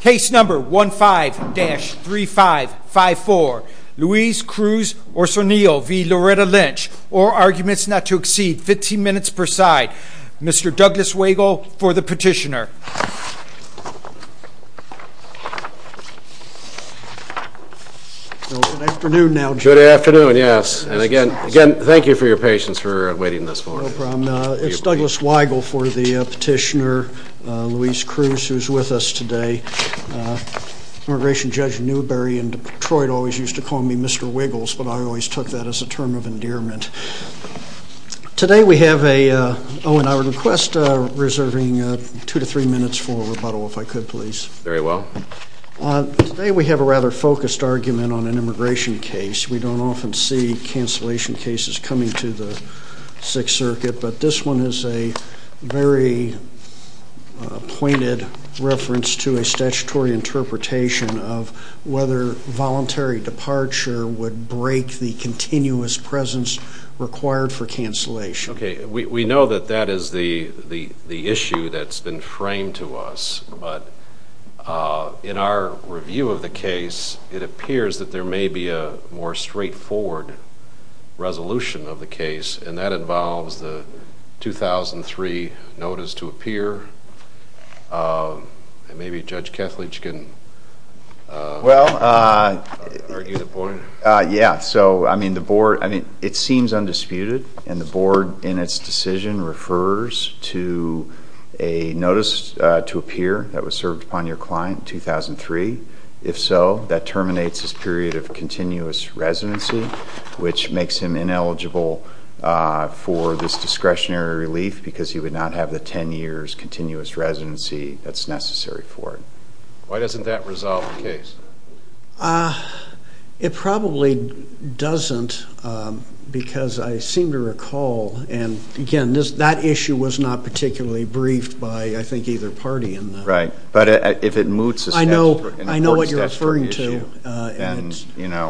Case number 15-3554. Luis Cruz Osornio v. Loretta Lynch. All arguments not to exceed 15 minutes per side. Mr. Douglas Wagle for the petitioner. Good afternoon now. Good afternoon, yes. And again, thank you for your patience for waiting this long. No problem. It's Douglas Wagle for the petitioner, Luis Cruz, who's with us today. Immigration Judge Newberry in Detroit always used to call me Mr. Wiggles, but I always took that as a term of endearment. Today we have a, oh and I would request reserving two to three minutes for rebuttal if I could please. Very well. Today we have a rather focused argument on an immigration case. We don't often see cancellation cases coming to the Sixth Circuit, but this one is a very pointed reference to a statutory interpretation of whether voluntary departure would break the continuous presence of an immigrant. Okay, we know that that is the issue that's been framed to us, but in our review of the case, it appears that there may be a more straightforward resolution of the case, and that involves the 2003 notice to appear. Maybe Judge Kethledge can argue the point. Yeah, so I mean the board, I mean it seems undisputed, and the board in its decision refers to a notice to appear that was served upon your client in 2003. If so, that terminates his period of continuous residency, which makes him ineligible for this discretionary relief because he would not have the ten years continuous residency that's necessary for it. Why doesn't that resolve the case? It probably doesn't because I seem to recall, and again, that issue was not particularly briefed by I think either party in that. Right, but if it moots an important statutory issue, then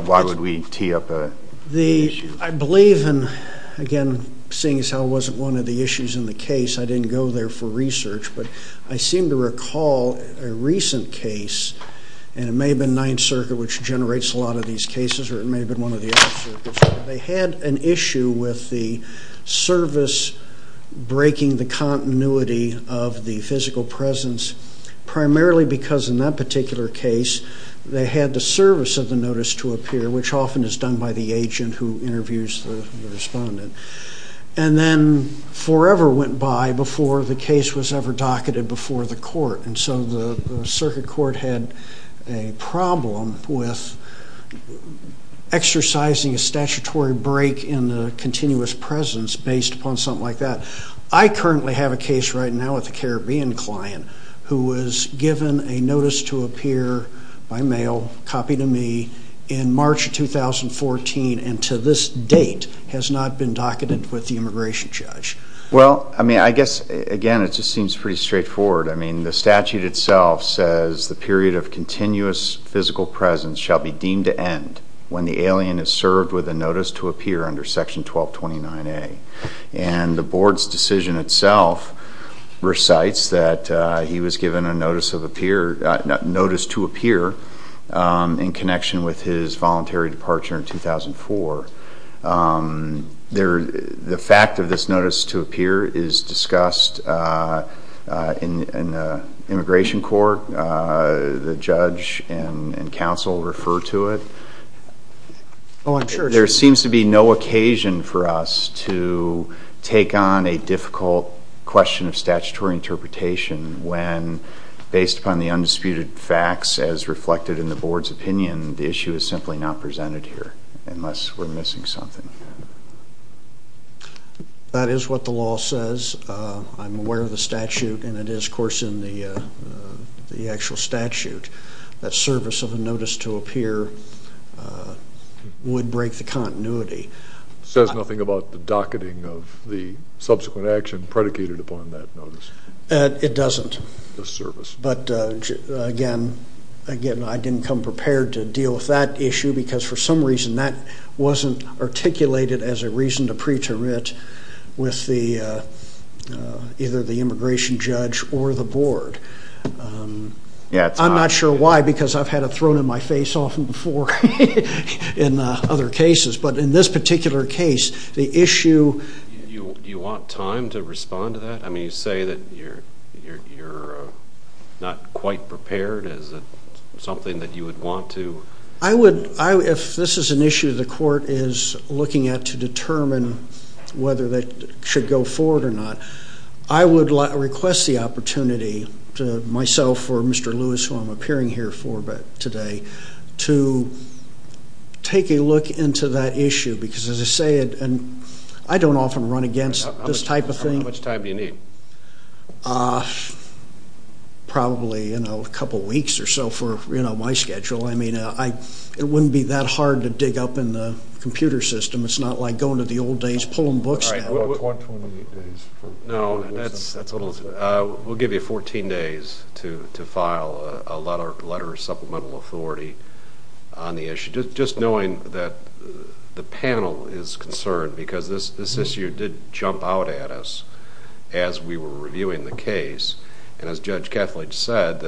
why would we tee up an issue? I believe, and again, seeing as how it wasn't one of the issues in the case, I didn't go there for research, but I seem to recall a recent case, and it may have been Ninth Circuit which generates a lot of these cases, or it may have been one of the other circuits. They had an issue with the service breaking the continuity of the physical presence, primarily because in that particular case they had the service of the notice to appear, which often is done by the agent who interviews the respondent, and then forever went by before the case was ever docketed before the court. And so the circuit court had a problem with exercising a statutory break in the continuous presence based upon something like that. I currently have a case right now with a Caribbean client who was given a notice to appear by mail, copy to me, in March of 2014, and to this date has not been docketed with the immigration judge. Well, I mean, I guess, again, it just seems pretty straightforward. I mean, the statute itself says the period of continuous physical presence shall be deemed to end when the alien is served with a notice to appear under section 1229A. And the board's decision itself recites that he was given a notice to appear in connection with his voluntary departure in 2004. The fact of this notice to appear is discussed in the immigration court. The judge and counsel refer to it. There seems to be no occasion for us to take on a difficult question of statutory interpretation when, based upon the undisputed facts as reflected in the board's opinion, the issue is simply not presented here, unless we're missing something. That is what the law says. I'm aware of the statute, and it is, of course, in the actual statute that service of a notice to appear would break the continuity. It says nothing about the docketing of the subsequent action predicated upon that notice. It doesn't. The service. But, again, I didn't come prepared to deal with that issue because, for some reason, that wasn't articulated as a reason to pre-term it with either the immigration judge or the board. I'm not sure why because I've had it thrown in my face often before in other cases. But in this particular case, the issue— Do you want time to respond to that? I mean, you say that you're not quite prepared. Is it something that you would want to— If this is an issue the court is looking at to determine whether that should go forward or not, I would request the opportunity to myself or Mr. Lewis, who I'm appearing here for today, to take a look into that issue because, as I say, I don't often run against this type of thing. How much time do you need? Probably a couple weeks or so for my schedule. I mean, it wouldn't be that hard to dig up in the computer system. It's not like going to the old days pulling books down. All right. We'll give you 14 days to file a letter of supplemental authority on the issue. Just knowing that the panel is concerned because this issue did jump out at us as we were reviewing the case. And as Judge Kethledge said,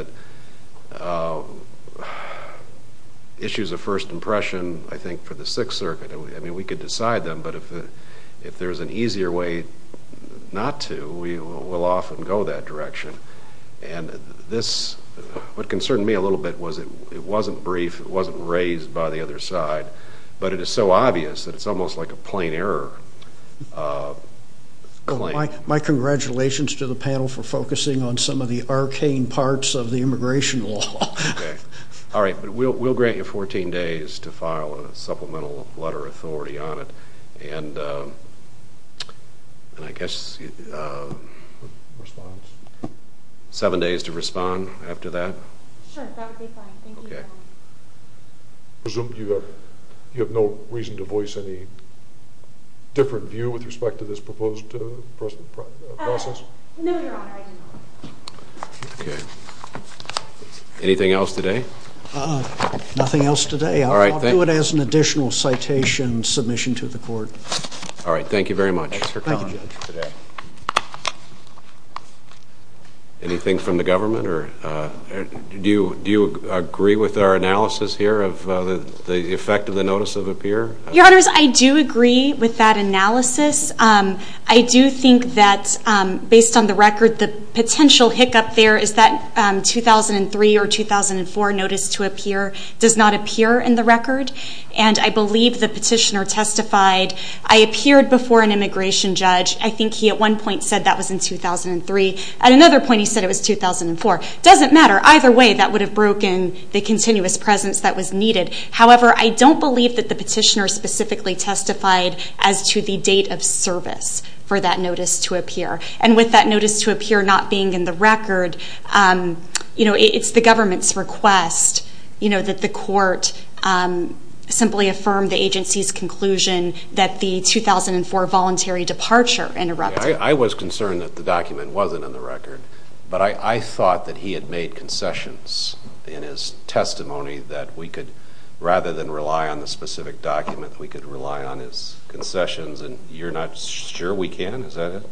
issues of first impression, I think, for the Sixth Circuit, I mean, we could decide them. But if there's an easier way not to, we'll often go that direction. And this—what concerned me a little bit was it wasn't brief. It wasn't raised by the other side. But it is so obvious that it's almost like a plain error claim. My congratulations to the panel for focusing on some of the arcane parts of the immigration law. Okay. All right. But we'll grant you 14 days to file a supplemental letter of authority on it. And I guess— Response? Seven days to respond after that? Sure. That would be fine. Thank you. Okay. I presume you have no reason to voice any different view with respect to this proposed process? No, Your Honor, I do not. Okay. Anything else today? Nothing else today. All right. I'll do it as an additional citation submission to the court. All right. Thank you very much. Thank you, Judge. Good day. Anything from the government? Do you agree with our analysis here of the effect of the notice of appear? Your Honors, I do agree with that analysis. I do think that, based on the record, the potential hiccup there is that 2003 or 2004 notice to appear does not appear in the record. And I believe the petitioner testified. I appeared before an immigration judge. I think he, at one point, said that was in 2003. At another point, he said it was 2004. It doesn't matter. Either way, that would have broken the continuous presence that was needed. However, I don't believe that the petitioner specifically testified as to the date of service for that notice to appear. And with that notice to appear not being in the record, it's the government's request that the court simply affirm the agency's conclusion that the 2004 voluntary departure interrupted. I was concerned that the document wasn't in the record. But I thought that he had made concessions in his testimony that we could, rather than rely on the specific document, that we could rely on his concessions. And you're not sure we can? Is that it?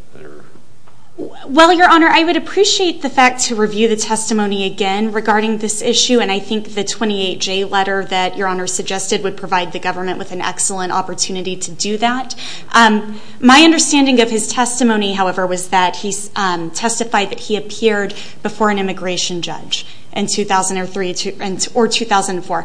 Well, Your Honor, I would appreciate the fact to review the testimony again regarding this issue. And I think the 28J letter that Your Honor suggested would provide the government with an excellent opportunity to do that. My understanding of his testimony, however, was that he testified that he appeared before an immigration judge in 2003 or 2004.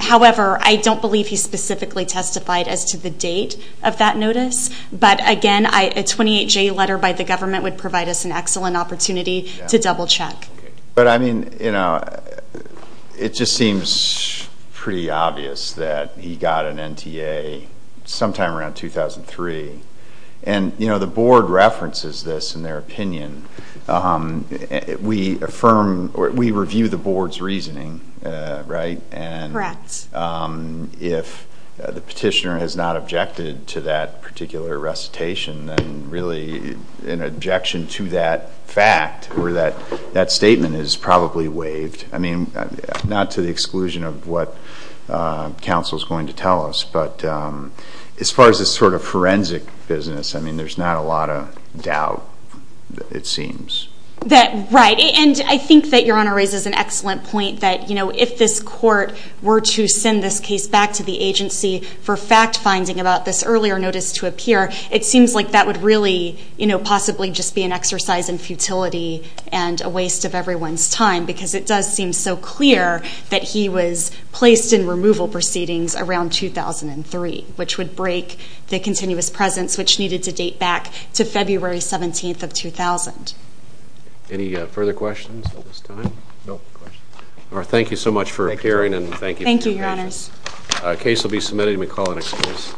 However, I don't believe he specifically testified as to the date of that notice. But, again, a 28J letter by the government would provide us an excellent opportunity to double check. But, I mean, you know, it just seems pretty obvious that he got an NTA sometime around 2003. And, you know, the board references this in their opinion. We affirm or we review the board's reasoning, right? Correct. And if the petitioner has not objected to that particular recitation, then really an objection to that fact or that statement is probably waived. I mean, not to the exclusion of what counsel is going to tell us, but as far as this sort of forensic business, I mean, there's not a lot of doubt. It seems. Right. And I think that Your Honor raises an excellent point that, you know, if this court were to send this case back to the agency for fact finding about this earlier notice to appear, it seems like that would really, you know, possibly just be an exercise in futility and a waste of everyone's time because it does seem so clear that he was placed in removal proceedings around 2003, which would break the continuous presence which needed to date back to February 17th of 2000. Any further questions at this time? No questions. All right. Thank you so much for appearing and thank you. Thank you, Your Honors. The case will be submitted. You may call the next case.